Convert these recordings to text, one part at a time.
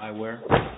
EYEWEAR MARCHON EYEWEAR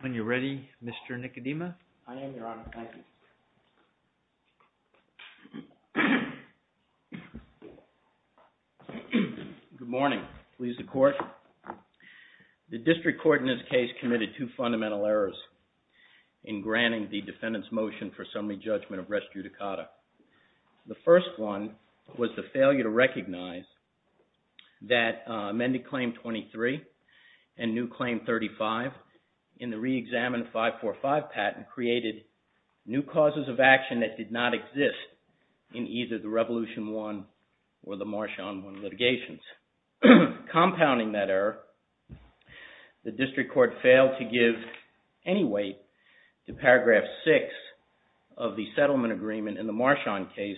When you're ready Mr. Nicodema. I am, your Honor. Thank you. Good morning. Please the Court. The District Court in this case committed two fundamental errors in granting the defendant's motion for assembly judgment of rest judicata. The first one was the failure to recognize that amended Claim 23 and new Claim 35 in the reexamined 545 patent created new causes of action that did not exist in either the Revolution I or the March on I litigations. Compounding that error, the District Court failed to give any weight to Paragraph 6 of the settlement agreement in the March on case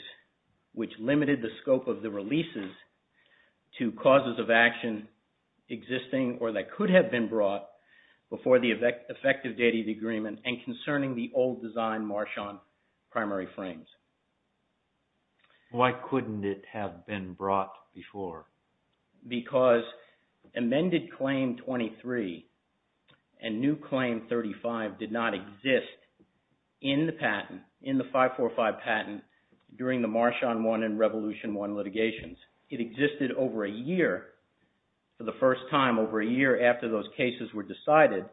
which limited the scope of the releases to causes of action existing or that could have been brought before the effective date of the agreement and concerning the old designed March on primary frames. Why couldn't it have been brought before? Because amended Claim 23 and new Claim 35 did not exist in the patent, in the 545 patent during the March on I and Revolution I litigations. It existed for the first time over a year after those cases were decided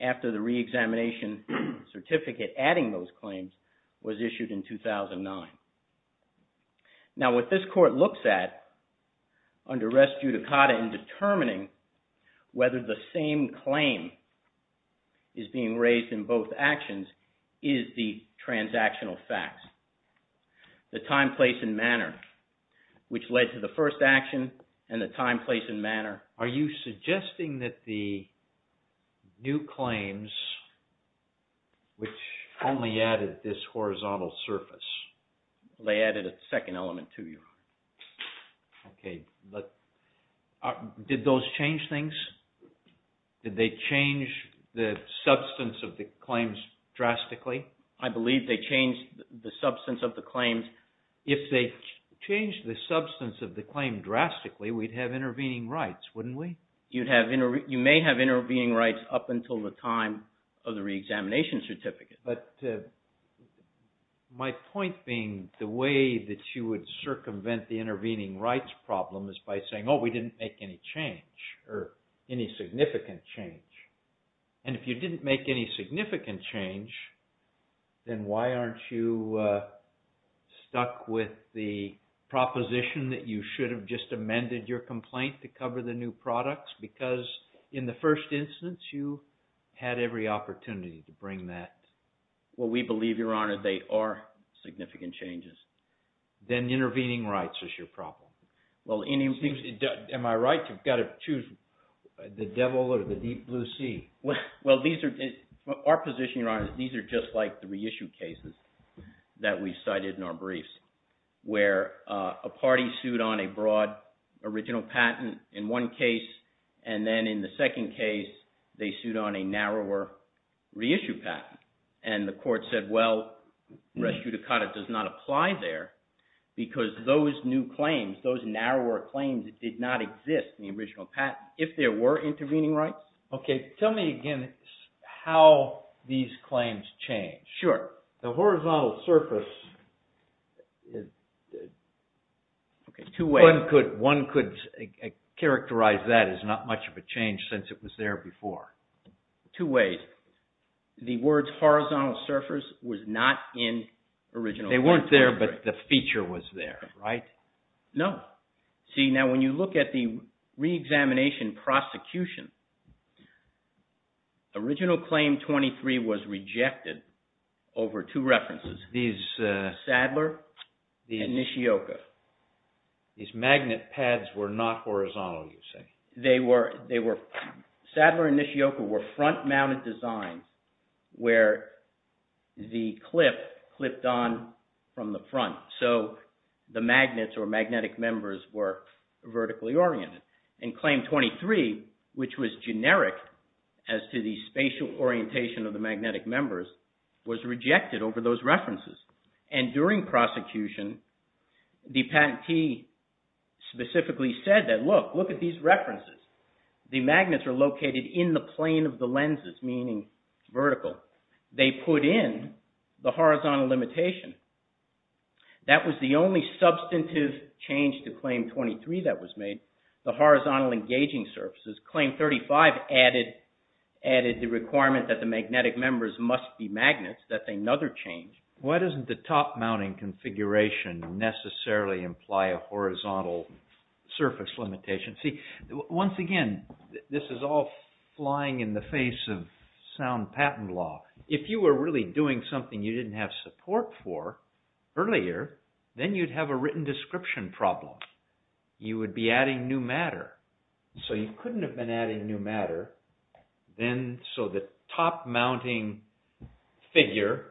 after the reexamination certificate adding those claims was issued in 2009. Now what this court looks at under rest judicata in determining whether the same claim is being raised in both actions is the transactional facts, the time, place, and manner which led to the first action and the time, place, and manner. Are you suggesting that the new claims which only added this horizontal surface, they added a second element to you? Okay. Did those change things? Did they change the substance of the claims drastically? I believe they changed the substance of the claims. If they changed the substance of the claim drastically, we'd have intervening rights, wouldn't we? You may have intervening rights up until the time of the reexamination certificate. But my point being the way that you would circumvent the intervening rights problem is by saying, oh, we didn't make any change or any significant change. And if you didn't make any significant change, then why aren't you stuck with the proposition that you should have just amended your complaint to cover the new products? Because in the first instance, you had every opportunity to bring that. Well, we believe, Your Honor, they are significant changes. Then intervening rights is your problem. Am I right? You've got to choose the devil or the deep blue sea. Well, our position, Your Honor, is these are just like the reissue cases that we cited in our briefs where a party sued on a broad original patent in one case, and then in the second case, they sued on a narrower reissue patent. And the court said, well, res judicata does not apply there because those new claims, those narrower claims did not exist in the original patent if there were intervening rights. Okay. Tell me again how these claims change. Sure. The horizontal surface is two ways. One could characterize that as not much of a change since it was there before. Two ways. The words horizontal surface was not in original. They weren't there, but the feature was there, right? No. See, now when you look at the reexamination prosecution, original claim 23 was rejected over two references, Sadler and Nishioka. These magnet pads were not horizontal, you say? No. Sadler and Nishioka were front-mounted designs where the clip clipped on from the front, so the magnets or magnetic members were vertically oriented. And claim 23, which was generic as to the spatial orientation of the magnetic members, was rejected over those references. And during prosecution, the patentee specifically said that, look, look at these references. The magnets are located in the plane of the lenses, meaning vertical. They put in the horizontal limitation. That was the only substantive change to claim 23 that was made, the horizontal engaging surfaces. Claim 35 added the requirement that the magnetic members must be magnets. That's another change. Now, doesn't the top-mounting configuration necessarily imply a horizontal surface limitation? See, once again, this is all flying in the face of sound patent law. If you were really doing something you didn't have support for earlier, then you'd have a written description problem. You would be adding new matter. So you couldn't have been adding new matter. So the top-mounting figure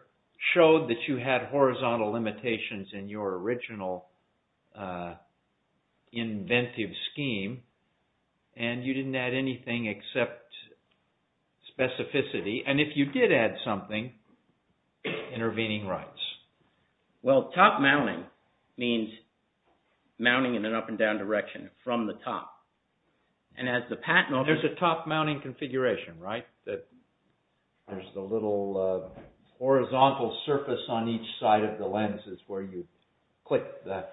showed that you had horizontal limitations in your original inventive scheme. And you didn't add anything except specificity. And if you did add something, intervening rights. Well, top-mounting means mounting in an up-and-down direction from the top. There's a top-mounting configuration, right? There's the little horizontal surface on each side of the lenses where you click the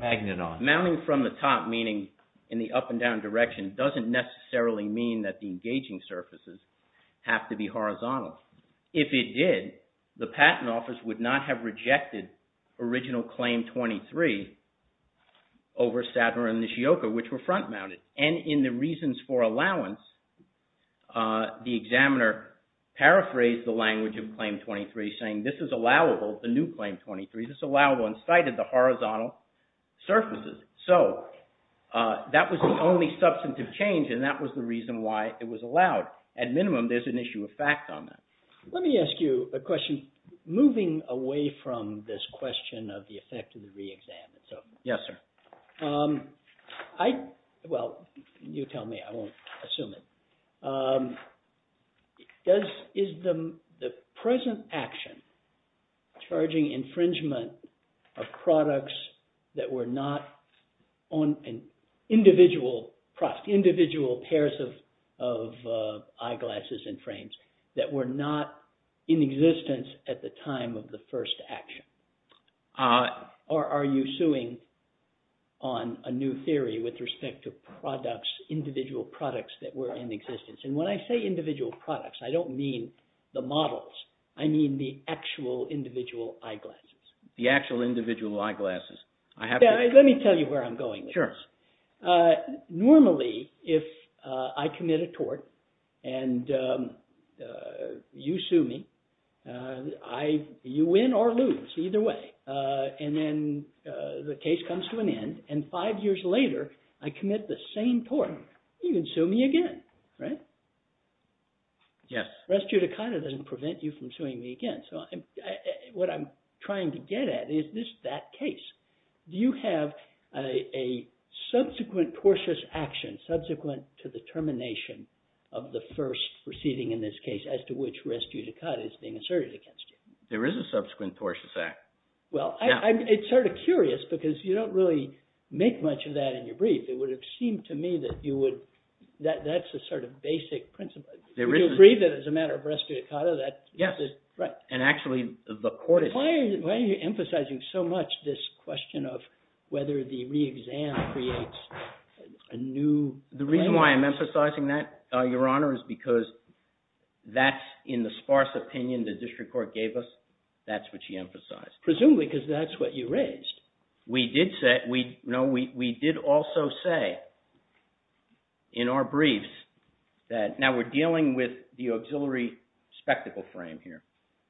magnet on. Mounting from the top, meaning in the up-and-down direction, doesn't necessarily mean that the engaging surfaces have to be horizontal. If it did, the patent office would not have rejected original Claim 23 over Stadner and Nishioka, which were front-mounted. And in the reasons for allowance, the examiner paraphrased the language of Claim 23, saying, this is allowable, the new Claim 23, this is allowable, and cited the horizontal surfaces. So that was the only substantive change, and that was the reason why it was allowed. At minimum, there's an issue of fact on that. Let me ask you a question, moving away from this question of the effect of the re-exam. Yes, sir. Well, you tell me, I won't assume it. Is the present action charging infringement of products that were not on an individual process, individual pairs of eyeglasses and frames, that were not in existence at the time of the first action? Or are you suing on a new theory with respect to products, individual products that were in existence? When I say individual products, I don't mean the models. I mean the actual individual eyeglasses. The actual individual eyeglasses. Let me tell you where I'm going with this. Normally, if I commit a tort, and you sue me, you win or lose, either way. And then the case comes to an end, and five years later, I commit the same tort. You can sue me again, right? Yes. Res judicata doesn't prevent you from suing me again. What I'm trying to get at is that case. Do you have a subsequent tortious action, subsequent to the termination of the first proceeding in this case, as to which res judicata is being asserted against you? There is a subsequent tortious act. Well, it's sort of curious, because you don't really make much of that in your brief. It would have seemed to me that you would, that's the sort of basic principle. Do you agree that as a matter of res judicata, that this is… Yes. And actually, the court is… Why are you emphasizing so much this question of whether the re-exam creates a new claim? The reason why I'm emphasizing that, Your Honor, is because that's in the sparse opinion the district court gave us. That's what she emphasized. Presumably, because that's what you raised. We did also say in our briefs that… Now, we're dealing with the auxiliary spectacle frame here.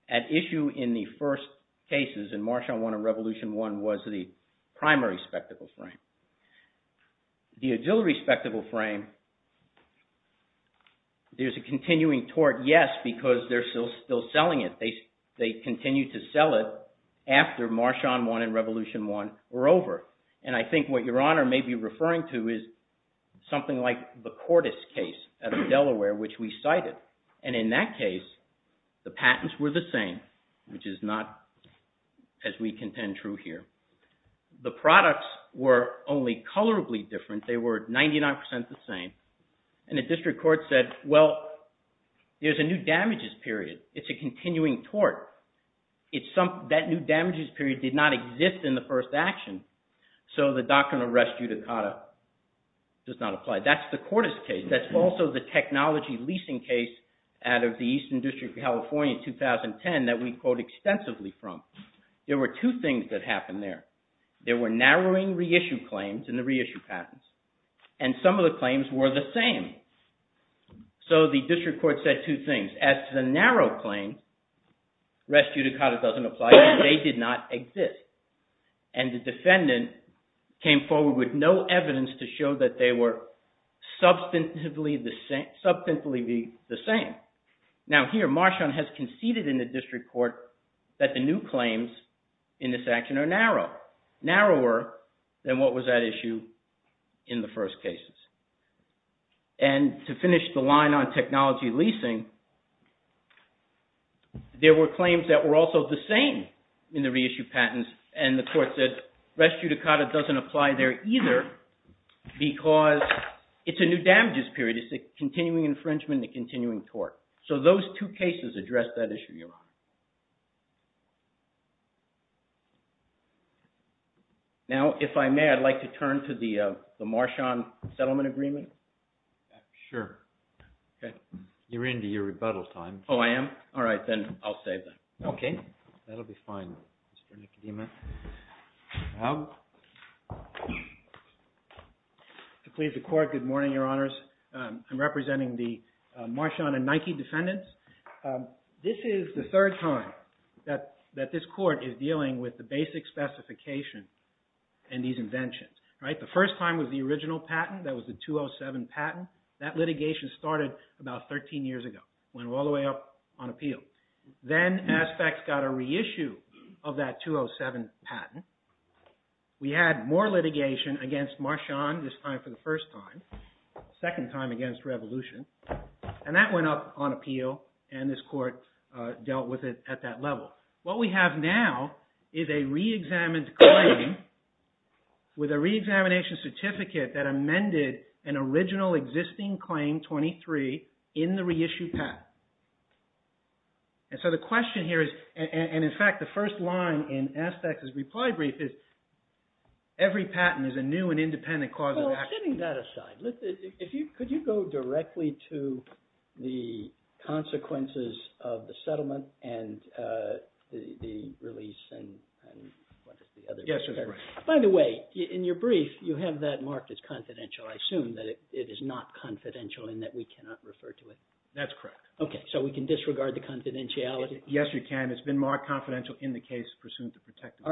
At issue in the first cases, in March on 1 and Revolution 1, was the primary spectacle frame. The auxiliary spectacle frame, there's a continuing tort, yes, because they're still selling it. They continue to sell it after March on 1 and Revolution 1 were over. And I think what Your Honor may be referring to is something like the Cordes case out of Delaware, which we cited. And in that case, the patents were the same, which is not, as we contend, true here. The products were only colorably different. They were 99 percent the same. And the district court said, well, there's a new damages period. It's a continuing tort. That new damages period did not exist in the first action, so the doctrine of res judicata does not apply. That's the Cordes case. That's also the technology leasing case out of the Eastern District of California in 2010 that we quote extensively from. There were two things that happened there. There were narrowing reissue claims in the reissue patents, and some of the claims were the same. So, the district court said two things. As to the narrow claims, res judicata doesn't apply. They did not exist. And the defendant came forward with no evidence to show that they were substantively the same. Now, here, March on has conceded in the district court that the new claims in this action are narrow, narrower than what was at issue in the first cases. And to finish the line on technology leasing, there were claims that were also the same in the reissue patents. And the court said, res judicata doesn't apply there either because it's a new damages period. It's a continuing infringement and a continuing tort. So, those two cases address that issue, Your Honor. Now, if I may, I'd like to turn to the March on settlement agreement. Sure. Okay. You're into your rebuttal time. Oh, I am? All right, then I'll save that. Okay. That'll be fine, Mr. Nicodima. To please the court, good morning, Your Honors. I'm representing the March on and Nike defendants. This is the third time that this court is dealing with the basic specification in these inventions, right? The first time was the original patent. That was the 207 patent. That litigation started about 13 years ago, went all the way up on appeal. Then Aspect got a reissue of that 207 patent. We had more litigation against March on this time for the first time, second time against Revolution. And that went up on appeal and this court dealt with it at that level. What we have now is a reexamined claim with a reexamination certificate that amended an original existing claim 23 in the reissued patent. And so, the question here is, and in fact, the first line in Aspect's reply brief is, every patent is a new and independent cause of action. Setting that aside, could you go directly to the consequences of the settlement and the release? Yes, that's correct. By the way, in your brief, you have that marked as confidential. I assume that it is not confidential and that we cannot refer to it. That's correct. Okay, so we can disregard the confidentiality? Yes, you can. It's been marked confidential in the case pursuant to protection.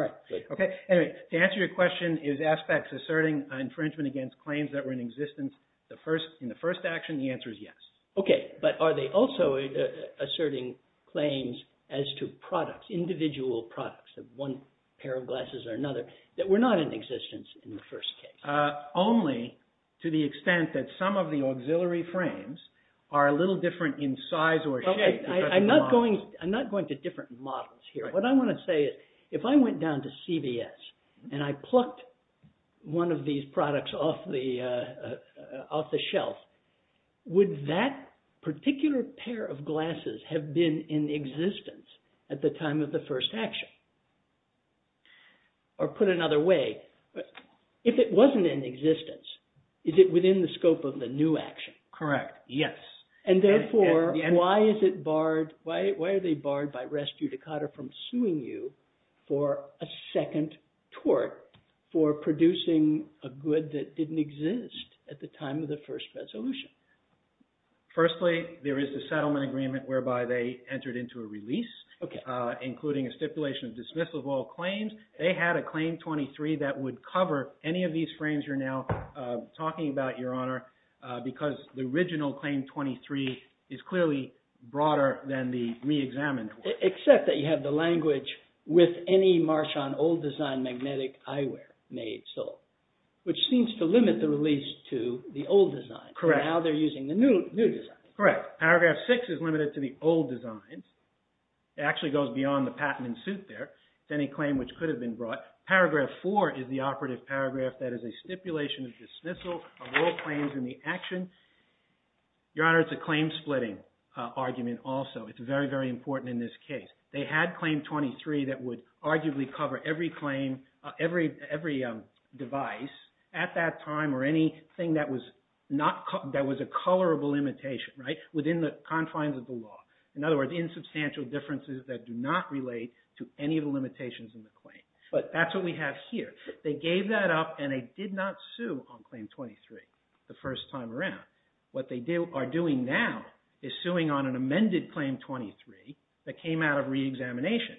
Okay, to answer your question, is Aspect asserting infringement against claims that were in existence in the first action? The answer is yes. Okay, but are they also asserting claims as to products, individual products of one pair of glasses or another that were not in existence in the first case? Only to the extent that some of the auxiliary frames are a little different in size or shape. I'm not going to different models here. What I want to say is, if I went down to CVS and I plucked one of these products off the shelf, would that particular pair of glasses have been in existence at the time of the first action? Or put another way, if it wasn't in existence, is it within the scope of the new action? And therefore, why are they barred by res judicata from suing you for a second tort for producing a good that didn't exist at the time of the first resolution? Firstly, there is a settlement agreement whereby they entered into a release, including a stipulation of dismissal of all claims. They had a Claim 23 that would cover any of these frames you're now talking about, Your Honor, because the original Claim 23 is clearly broader than the re-examined one. Except that you have the language, with any Marchand old design magnetic eyewear made, sold, which seems to limit the release to the old design. Correct. Now they're using the new design. Correct. Paragraph 6 is limited to the old design. It actually goes beyond the patent in suit there. It's any claim which could have been brought. Paragraph 4 is the operative paragraph that is a stipulation of dismissal of all claims in the action. Your Honor, it's a claim splitting argument also. It's very, very important in this case. They had Claim 23 that would arguably cover every claim, every device at that time or anything that was a colorable imitation within the confines of the law. In other words, insubstantial differences that do not relate to any of the limitations in the claim. But that's what we have here. They gave that up and they did not sue on Claim 23 the first time around. What they are doing now is suing on an amended Claim 23 that came out of re-examination.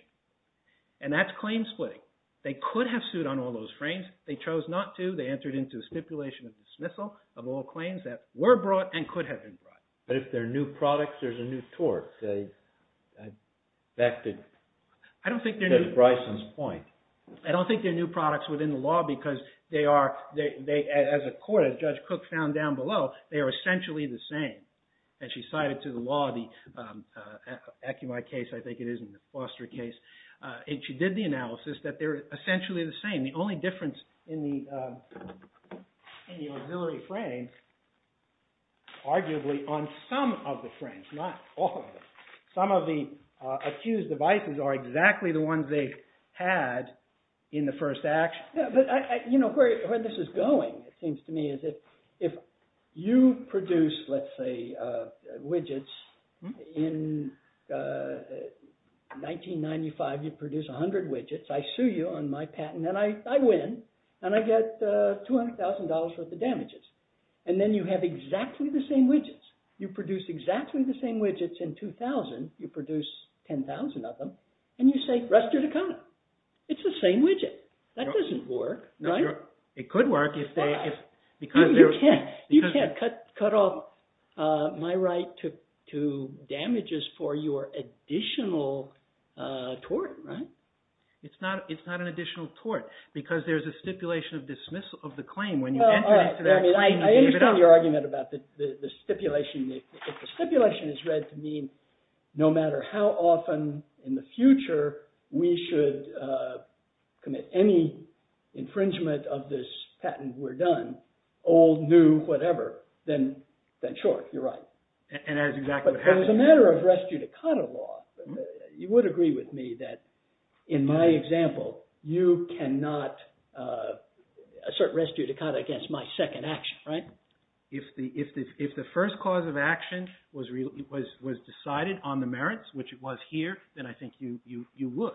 And that's claim splitting. They could have sued on all those frames. They chose not to. They entered into a stipulation of dismissal of all claims that were brought and could have been brought. But if they're new products, there's a new tort. Back to Judge Bryson's point. I don't think they're new products within the law because they are, as a court, as Judge Cook found down below, they are essentially the same. As she cited to the law, the Akimai case, I think it is, and the Foster case. She did the analysis that they're essentially the same. The only difference in the auxiliary frame, arguably on some of the frames, not all of them. Some of the accused devices are exactly the ones they had in the first act. But where this is going, it seems to me, is if you produce, let's say, widgets in 1995, you produce 100 widgets. I sue you on my patent and I win. And I get $200,000 worth of damages. And then you have exactly the same widgets. You produce exactly the same widgets in 2000. You produce 10,000 of them. And you say, rest are to come. It's the same widget. That doesn't work, right? It could work. You can't cut off my right to damages for your additional tort, right? It's not an additional tort. Because there's a stipulation of dismissal of the claim when you enter into that claim. I understand your argument about the stipulation. If the stipulation is read to mean no matter how often in the future we should commit any infringement of this patent, we're done. Old, new, whatever. Then sure, you're right. And that's exactly what happened. It was a matter of res judicata law. You would agree with me that in my example, you cannot assert res judicata against my second action, right? If the first cause of action was decided on the merits, which it was here, then I think you would.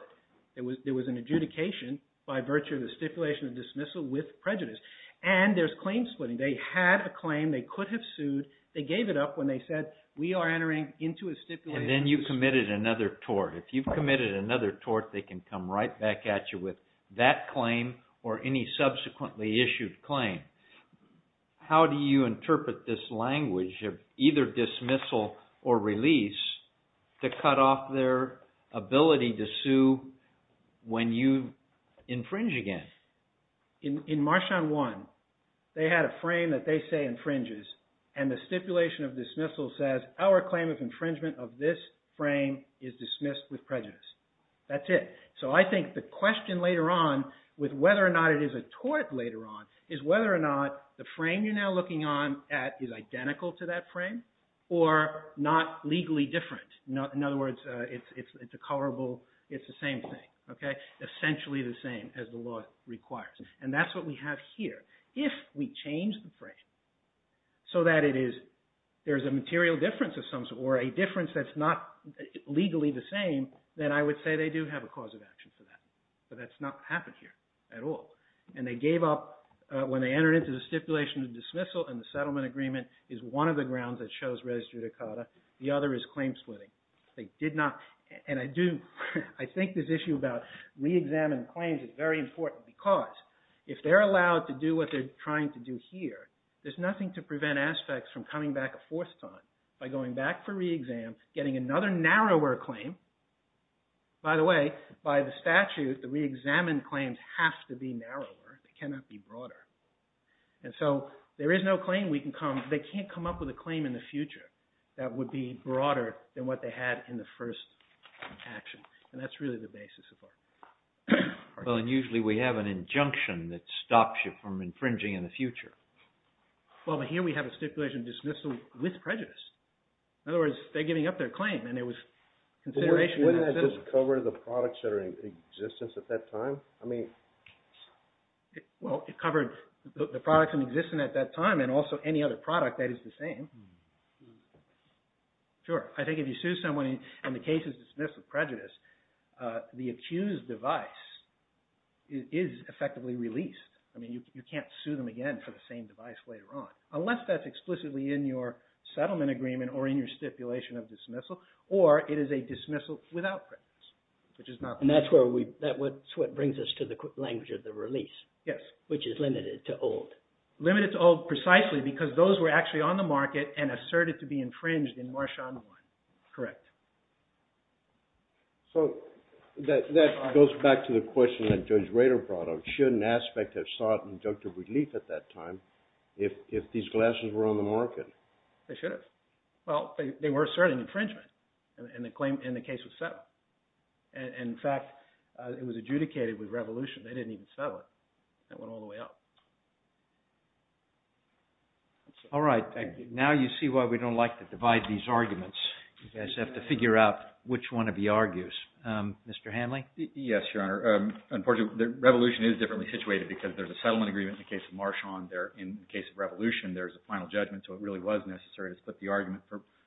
There was an adjudication by virtue of the stipulation of dismissal with prejudice. And there's claim splitting. They had a claim they could have sued. They gave it up when they said we are entering into a stipulation. And then you committed another tort. If you've committed another tort, they can come right back at you with that claim or any subsequently issued claim. How do you interpret this language of either dismissal or release to cut off their ability to sue when you infringe again? In March on 1, they had a frame that they say infringes. And the stipulation of dismissal says our claim of infringement of this frame is dismissed with prejudice. That's it. So I think the question later on with whether or not it is a tort later on is whether or not the frame you're now looking on at is identical to that frame or not legally different. In other words, it's a colorable, it's the same thing. Essentially the same as the law requires. And that's what we have here. If we change the frame so that there's a material difference or a difference that's not legally the same, then I would say they do have a cause of action for that. But that's not what happened here at all. And they gave up when they entered into the stipulation of dismissal and the settlement agreement is one of the grounds that shows res judicata. The other is claim splitting. And I think this issue about re-examined claims is very important because if they're allowed to do what they're trying to do here, there's nothing to prevent aspects from coming back a fourth time by going back for re-exam, getting another narrower claim. By the way, by the statute, the re-examined claims have to be narrower. They cannot be broader. And so there is no claim we can come – they can't come up with a claim in the future that would be broader than what they had in the first action. And that's really the basis of our argument. Well, and usually we have an injunction that stops you from infringing in the future. Well, but here we have a stipulation of dismissal with prejudice. In other words, they're giving up their claim and there was consideration – Wouldn't that just cover the products that are in existence at that time? I mean – Well, it covered the products in existence at that time and also any other product that is the same. Sure. I think if you sue someone and the case is dismissed with prejudice, the accused device is effectively released. I mean, you can't sue them again for the same device later on. Unless that's explicitly in your settlement agreement or in your stipulation of dismissal or it is a dismissal without prejudice, which is not the case. And that's where we – that's what brings us to the language of the release. Yes. Which is limited to old. Limited to old precisely because those were actually on the market and asserted to be infringed in March 1. Correct. So that goes back to the question that Judge Rader brought up. Should an aspect have sought injunctive relief at that time if these glasses were on the market? They should have. Well, they were asserting infringement and the claim – and the case was settled. And in fact, it was adjudicated with revolution. They didn't even settle it. It went all the way up. All right. Now you see why we don't like to divide these arguments. You guys have to figure out which one of you argues. Mr. Hanley? Yes, Your Honor. Unfortunately, the revolution is differently situated because there's a settlement agreement in the case of March 1. In the case of revolution, there's a final judgment. So it really was necessary to split the argument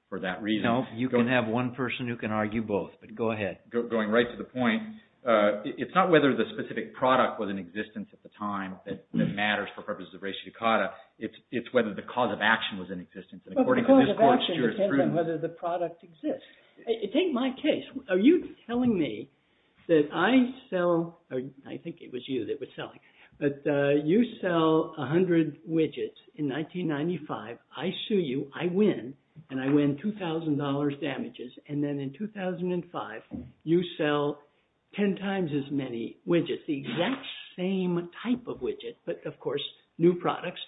for that reason. No. You can have one person who can argue both. But go ahead. Going right to the point, it's not whether the specific product was in existence at the time that matters for purposes of ratiocata. It's whether the cause of action was in existence. Well, the cause of action depends on whether the product exists. Take my case. Are you telling me that I sell – I think it was you that was selling. But you sell 100 widgets in 1995. I sue you. I win. And I win $2,000 damages. And then in 2005, you sell 10 times as many widgets, the exact same type of widget, but of course new products.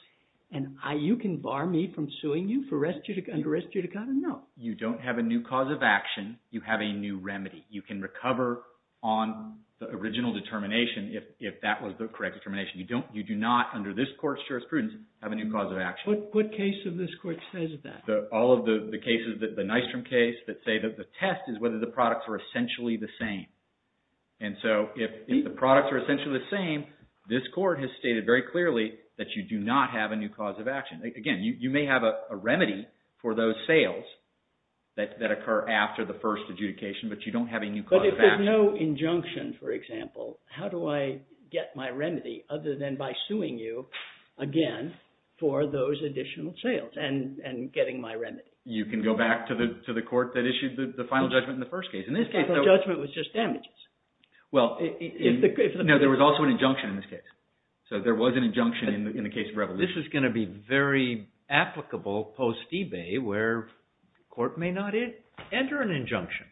And you can bar me from suing you for under-ratiocata? No. You don't have a new cause of action. You have a new remedy. You can recover on the original determination if that was the correct determination. You do not, under this court's jurisprudence, have a new cause of action. What case of this court says that? All of the cases, the Nystrom case, that say that the test is whether the products are essentially the same. And so if the products are essentially the same, this court has stated very clearly that you do not have a new cause of action. Again, you may have a remedy for those sales that occur after the first adjudication, but you don't have a new cause of action. But if there's no injunction, for example, how do I get my remedy other than by suing you again for those additional sales and getting my remedy? You can go back to the court that issued the final judgment in the first case. The final judgment was just damages. No, there was also an injunction in this case. So there was an injunction in the case of Revolution. So this is going to be very applicable post eBay where the court may not enter an injunction.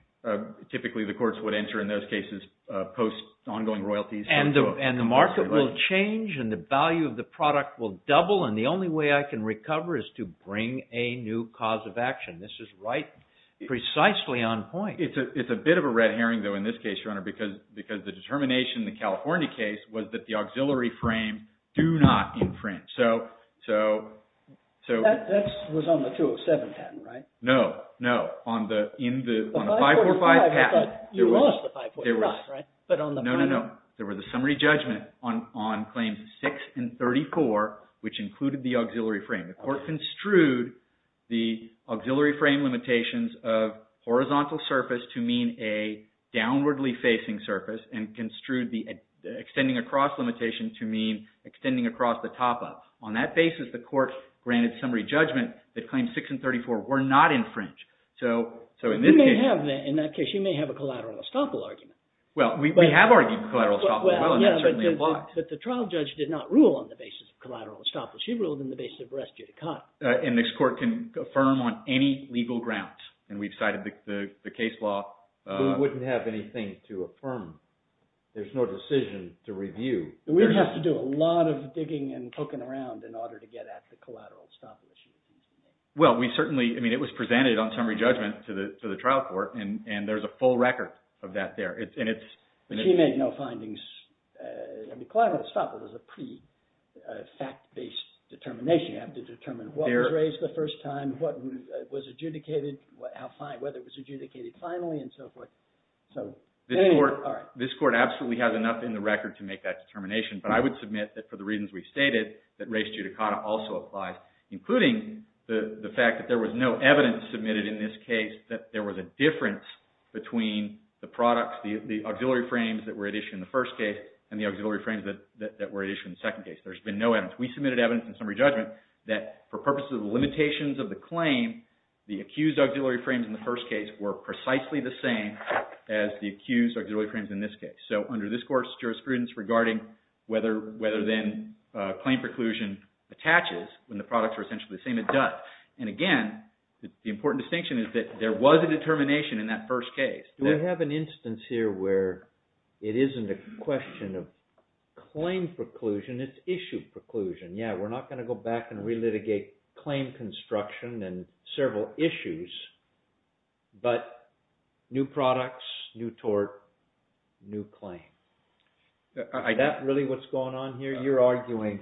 Typically the courts would enter in those cases post ongoing royalties. And the market will change and the value of the product will double and the only way I can recover is to bring a new cause of action. This is precisely on point. It's a bit of a red herring, though, in this case, Your Honor, because the determination in the California case was that the auxiliary frames do not infringe. That was on the 207 patent, right? No, no. On the 545 patent. You lost the 545, right? No, no, no. There was a summary judgment on claims 6 and 34, which included the auxiliary frame. The court construed the auxiliary frame limitations of horizontal surface to mean a downwardly facing surface and construed the extending across limitation to mean extending across the top up. On that basis, the court granted summary judgment that claims 6 and 34 were not infringed. You may have, in that case, you may have a collateral estoppel argument. Well, we have argued collateral estoppel, and that certainly applies. But the trial judge did not rule on the basis of collateral estoppel. She ruled on the basis of res judicata. And this court can affirm on any legal grounds. And we've cited the case law. We wouldn't have anything to affirm. There's no decision to review. We'd have to do a lot of digging and poking around in order to get at the collateral estoppel issue. Well, we certainly, I mean, it was presented on summary judgment to the trial court, and there's a full record of that there. She made no findings. I mean, collateral estoppel is a pretty fact-based determination. You have to determine what was raised the first time, what was adjudicated, whether it was adjudicated finally, and so forth. This court absolutely has enough in the record to make that determination. But I would submit that for the reasons we've stated, that res judicata also applies, including the fact that there was no evidence submitted in this case that there was a difference between the products, the auxiliary frames that were at issue in the first case and the auxiliary frames that were at issue in the second case. There's been no evidence. We submitted evidence in summary judgment that for purposes of the limitations of the claim, the accused auxiliary frames in the first case were precisely the same as the accused auxiliary frames in this case. So under this court's jurisprudence regarding whether then claim preclusion attaches when the products are essentially the same, it does. And again, the important distinction is that there was a determination in that first case. We have an instance here where it isn't a question of claim preclusion. It's issue preclusion. Yeah, we're not going to go back and relitigate claim construction and several issues, but new products, new tort, new claim. Is that really what's going on here? You're arguing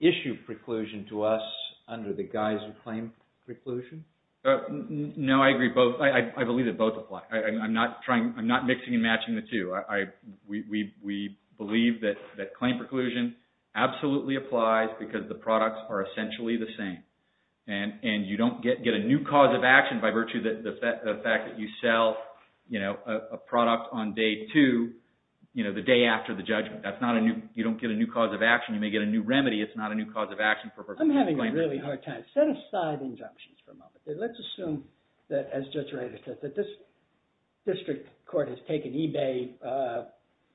issue preclusion to us under the guise of claim preclusion? No, I agree. I believe that both apply. I'm not mixing and matching the two. We believe that claim preclusion absolutely applies because the products are essentially the same. And you don't get a new cause of action by virtue of the fact that you sell a product on day two, the day after the judgment. You don't get a new cause of action. You may get a new remedy. It's not a new cause of action for claim preclusion. I'm having a really hard time. Set aside injunctions for a moment. Let's assume that, as Judge Reiter said, that this district court has taken eBay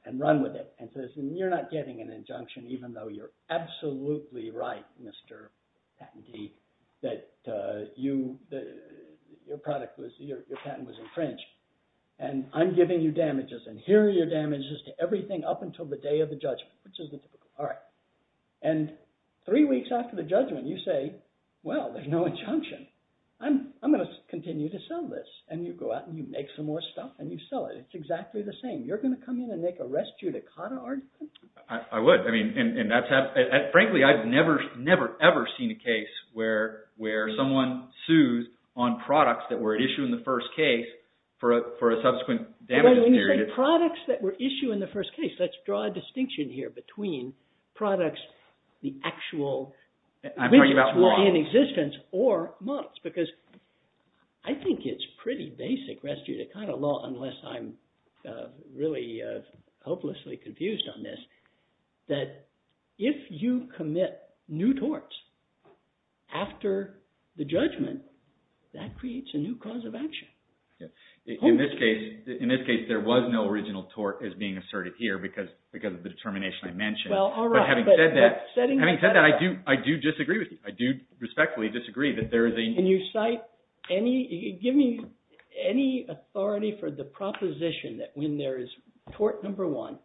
and run with it and says, you're not getting an injunction even though you're absolutely right, Mr. Patentee, that your patent was infringed. And I'm giving you damages, and here are your damages to everything up until the day of the judgment. All right. And three weeks after the judgment, you say, well, there's no injunction. I'm going to continue to sell this. And you go out and you make some more stuff, and you sell it. It's exactly the same. You're going to come in and make a res judicata argument? I would. Frankly, I've never, ever seen a case where someone sues on products that were issued in the first case for a subsequent damages period. They're products that were issued in the first case. Let's draw a distinction here between products, the actual… I'm talking about models.… in existence or models, because I think it's pretty basic, res judicata law, unless I'm really hopelessly confused on this, that if you commit new torts after the judgment, that creates a new cause of action. In this case, there was no original tort as being asserted here because of the determination I mentioned. But having said that, I do disagree with you. I do respectfully disagree that there is a… Can you cite any – give me any authority for the proposition that when there is tort number one,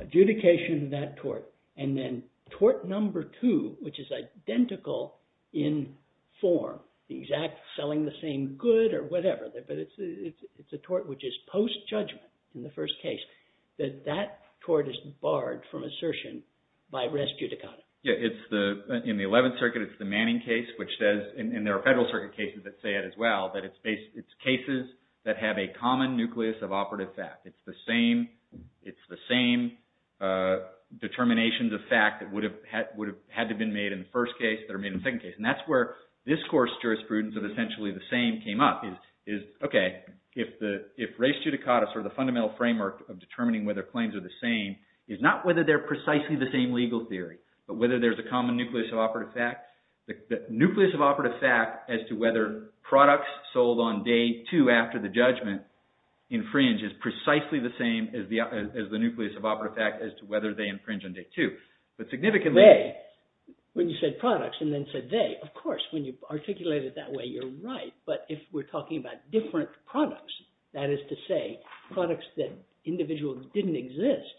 adjudication of that tort, and then tort number two, which is identical in form, the exact selling the same good or whatever, but it's a tort which is post-judgment in the first case, that that tort is barred from assertion by res judicata? In the 11th Circuit, it's the Manning case, which says – and there are federal circuit cases that say it as well – that it's cases that have a common nucleus of operative fact. It's the same determinations of fact that would have had to have been made in the first case that are made in the second case. And that's where this course jurisprudence of essentially the same came up. Okay, if res judicata, sort of the fundamental framework of determining whether claims are the same, is not whether they're precisely the same legal theory, but whether there's a common nucleus of operative fact. The nucleus of operative fact as to whether products sold on day two after the judgment infringe is precisely the same as the nucleus of operative fact as to whether they infringe on day two. But significantly – When you said products and then said they, of course, when you articulate it that way, you're right. But if we're talking about different products, that is to say, products that individuals didn't exist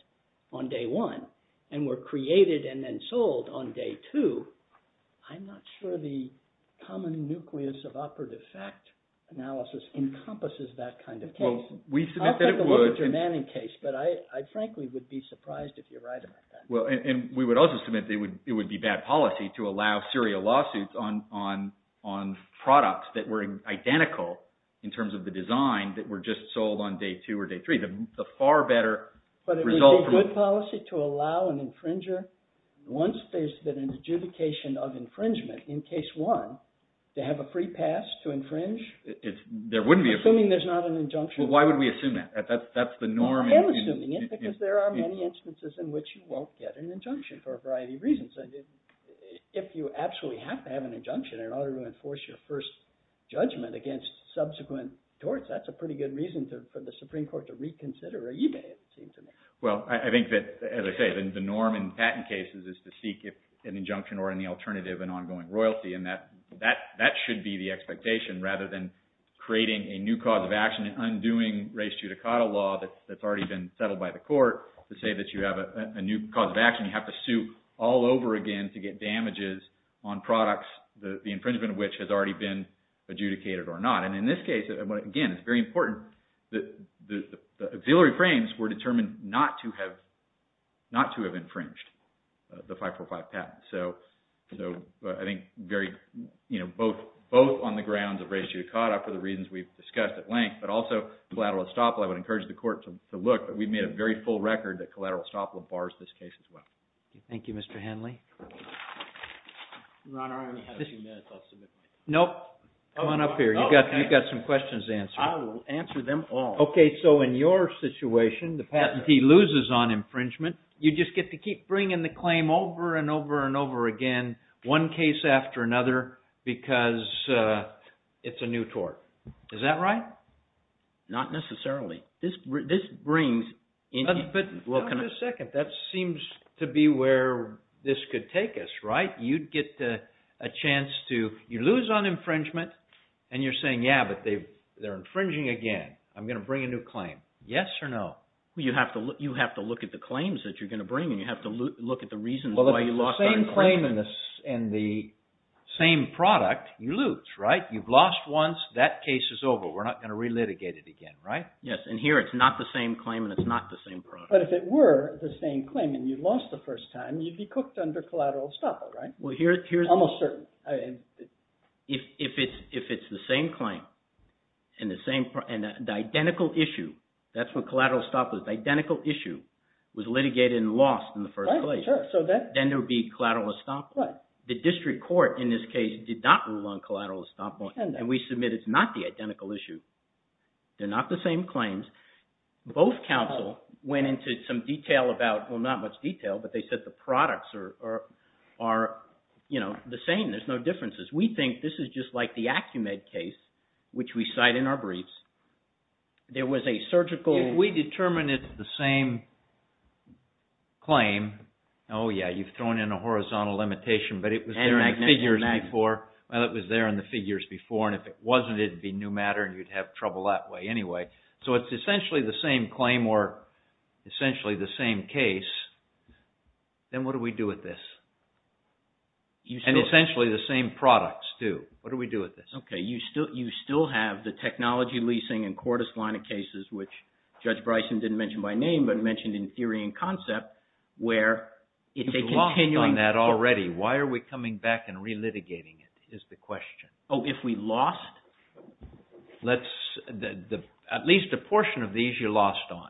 on day one and were created and then sold on day two, I'm not sure the common nucleus of operative fact analysis encompasses that kind of case. I'll take a look at your Manning case, but I frankly would be surprised if you're right about that. Well, and we would also submit that it would be bad policy to allow serial lawsuits on products that were identical in terms of the design that were just sold on day two or day three. But it would be good policy to allow an infringer, once there's been an adjudication of infringement in case one, to have a free pass to infringe, assuming there's not an injunction. Well, why would we assume that? That's the norm. I am assuming it because there are many instances in which you won't get an injunction for a variety of reasons. If you absolutely have to have an injunction in order to enforce your first judgment against subsequent torts, that's a pretty good reason for the Supreme Court to reconsider or even, it seems to me. Well, I think that, as I say, the norm in patent cases is to seek an injunction or any alternative in ongoing royalty, and that should be the expectation rather than creating a new cause of action and undoing race judicata law that's already been settled by the court to say that you have a new cause of action. You have to sue all over again to get damages on products, the infringement of which has already been adjudicated or not. And in this case, again, it's very important that the auxiliary frames were determined not to have infringed the 545 patent. So I think both on the grounds of race judicata for the reasons we've discussed at length, but also collateral estoppel, I would encourage the court to look. We've made a very full record that collateral estoppel bars this case as well. Thank you, Mr. Henley. Your Honor, I only have a few minutes. I'll submit my… Nope. Come on up here. You've got some questions to answer. I will answer them all. Okay, so in your situation, the patentee loses on infringement. You just get to keep bringing the claim over and over and over again, one case after another, because it's a new tort. Is that right? Not necessarily. This brings… But, hold on a second. That seems to be where this could take us, right? You'd get a chance to… You lose on infringement, and you're saying, yeah, but they're infringing again. I'm going to bring a new claim. Yes or no? You have to look at the claims that you're going to bring, and you have to look at the reasons why you lost on infringement. Well, if it's the same claim and the same product, you lose, right? You've lost once. That case is over. We're not going to relitigate it again, right? Yes, and here it's not the same claim, and it's not the same product. But if it were the same claim, and you lost the first time, you'd be cooked under collateral estoppel, right? Almost certainly. If it's the same claim and the identical issue, that's what collateral estoppel is. The identical issue was litigated and lost in the first place, then there would be collateral estoppel. The district court, in this case, did not rule on collateral estoppel, and we submit it's not the identical issue. They're not the same claims. Both counsel went into some detail about… The products are the same. There's no differences. We think this is just like the Acumed case, which we cite in our briefs. There was a surgical… If we determine it's the same claim, oh yeah, you've thrown in a horizontal limitation, but it was there in the figures before. Well, it was there in the figures before, and if it wasn't, it'd be new matter, and you'd have trouble that way anyway. So it's essentially the same claim or essentially the same case. Then what do we do with this? And essentially the same products, too. What do we do with this? Okay, you still have the technology leasing and court esplanade cases, which Judge Bryson didn't mention by name, but mentioned in theory and concept, where it's a continuing… You've lost on that already. Why are we coming back and relitigating it is the question. Oh, if we lost… At least a portion of these you lost on.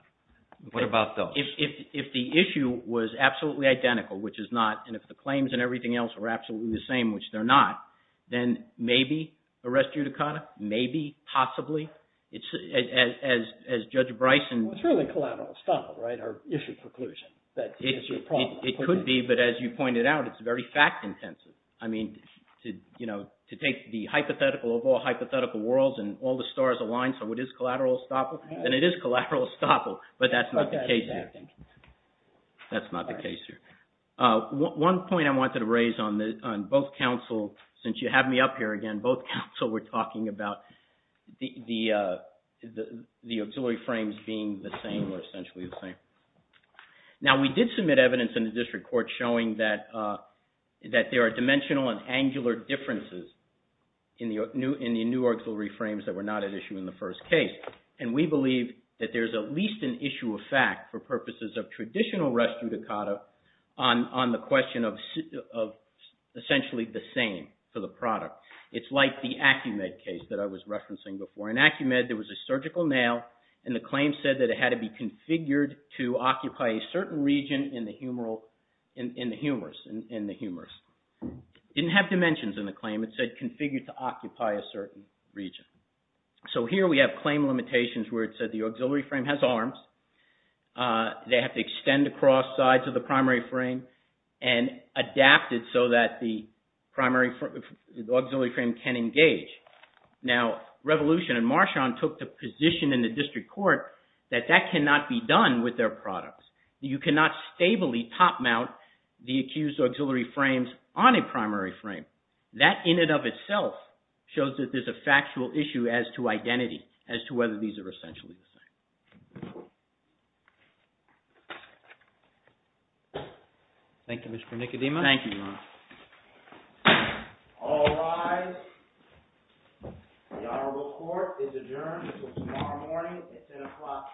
What about those? If the claim was absolutely identical, which it's not, and if the claims and everything else were absolutely the same, which they're not, then maybe arrest judicata, maybe, possibly, as Judge Bryson… Well, it's really collateral estoppel, right, or issue preclusion. It could be, but as you pointed out, it's very fact-intensive. I mean, to take the hypothetical of all hypothetical worlds and all the stars aligned, so it is collateral estoppel, then it is collateral estoppel, but that's not the case here. One point I wanted to raise on both counsel, since you have me up here again, both counsel were talking about the auxiliary frames being the same, or essentially the same. Now, we did submit evidence in the district court showing that there are dimensional and angular differences in the new auxiliary frames that were not at issue in the first case, and we believe that there's at least an issue of fact for purposes of traditional arrest judicata on the question of essentially the same for the product. It's like the Acumed case that I was referencing before. In Acumed, there was a surgical nail, and the claim said that it had to be configured to occupy a certain region in the humerus. It didn't have dimensions in the claim. It said configured to occupy a certain region. So here we have claim limitations where it said the auxiliary frame has arms, they have to extend across sides of the primary frame, and adapted so that the auxiliary frame can engage. Now, Revolution and Marchand took the position in the district court that that cannot be done with their products. You cannot stably top mount the accused auxiliary frames on a primary frame. That in and of itself shows that there's a factual issue as to identity, as to whether these are essentially the same. Thank you. Thank you, Mr. Nicodemus. Thank you, Your Honor. All rise. The honorable court is adjourned until tomorrow morning at 10 o'clock a.m.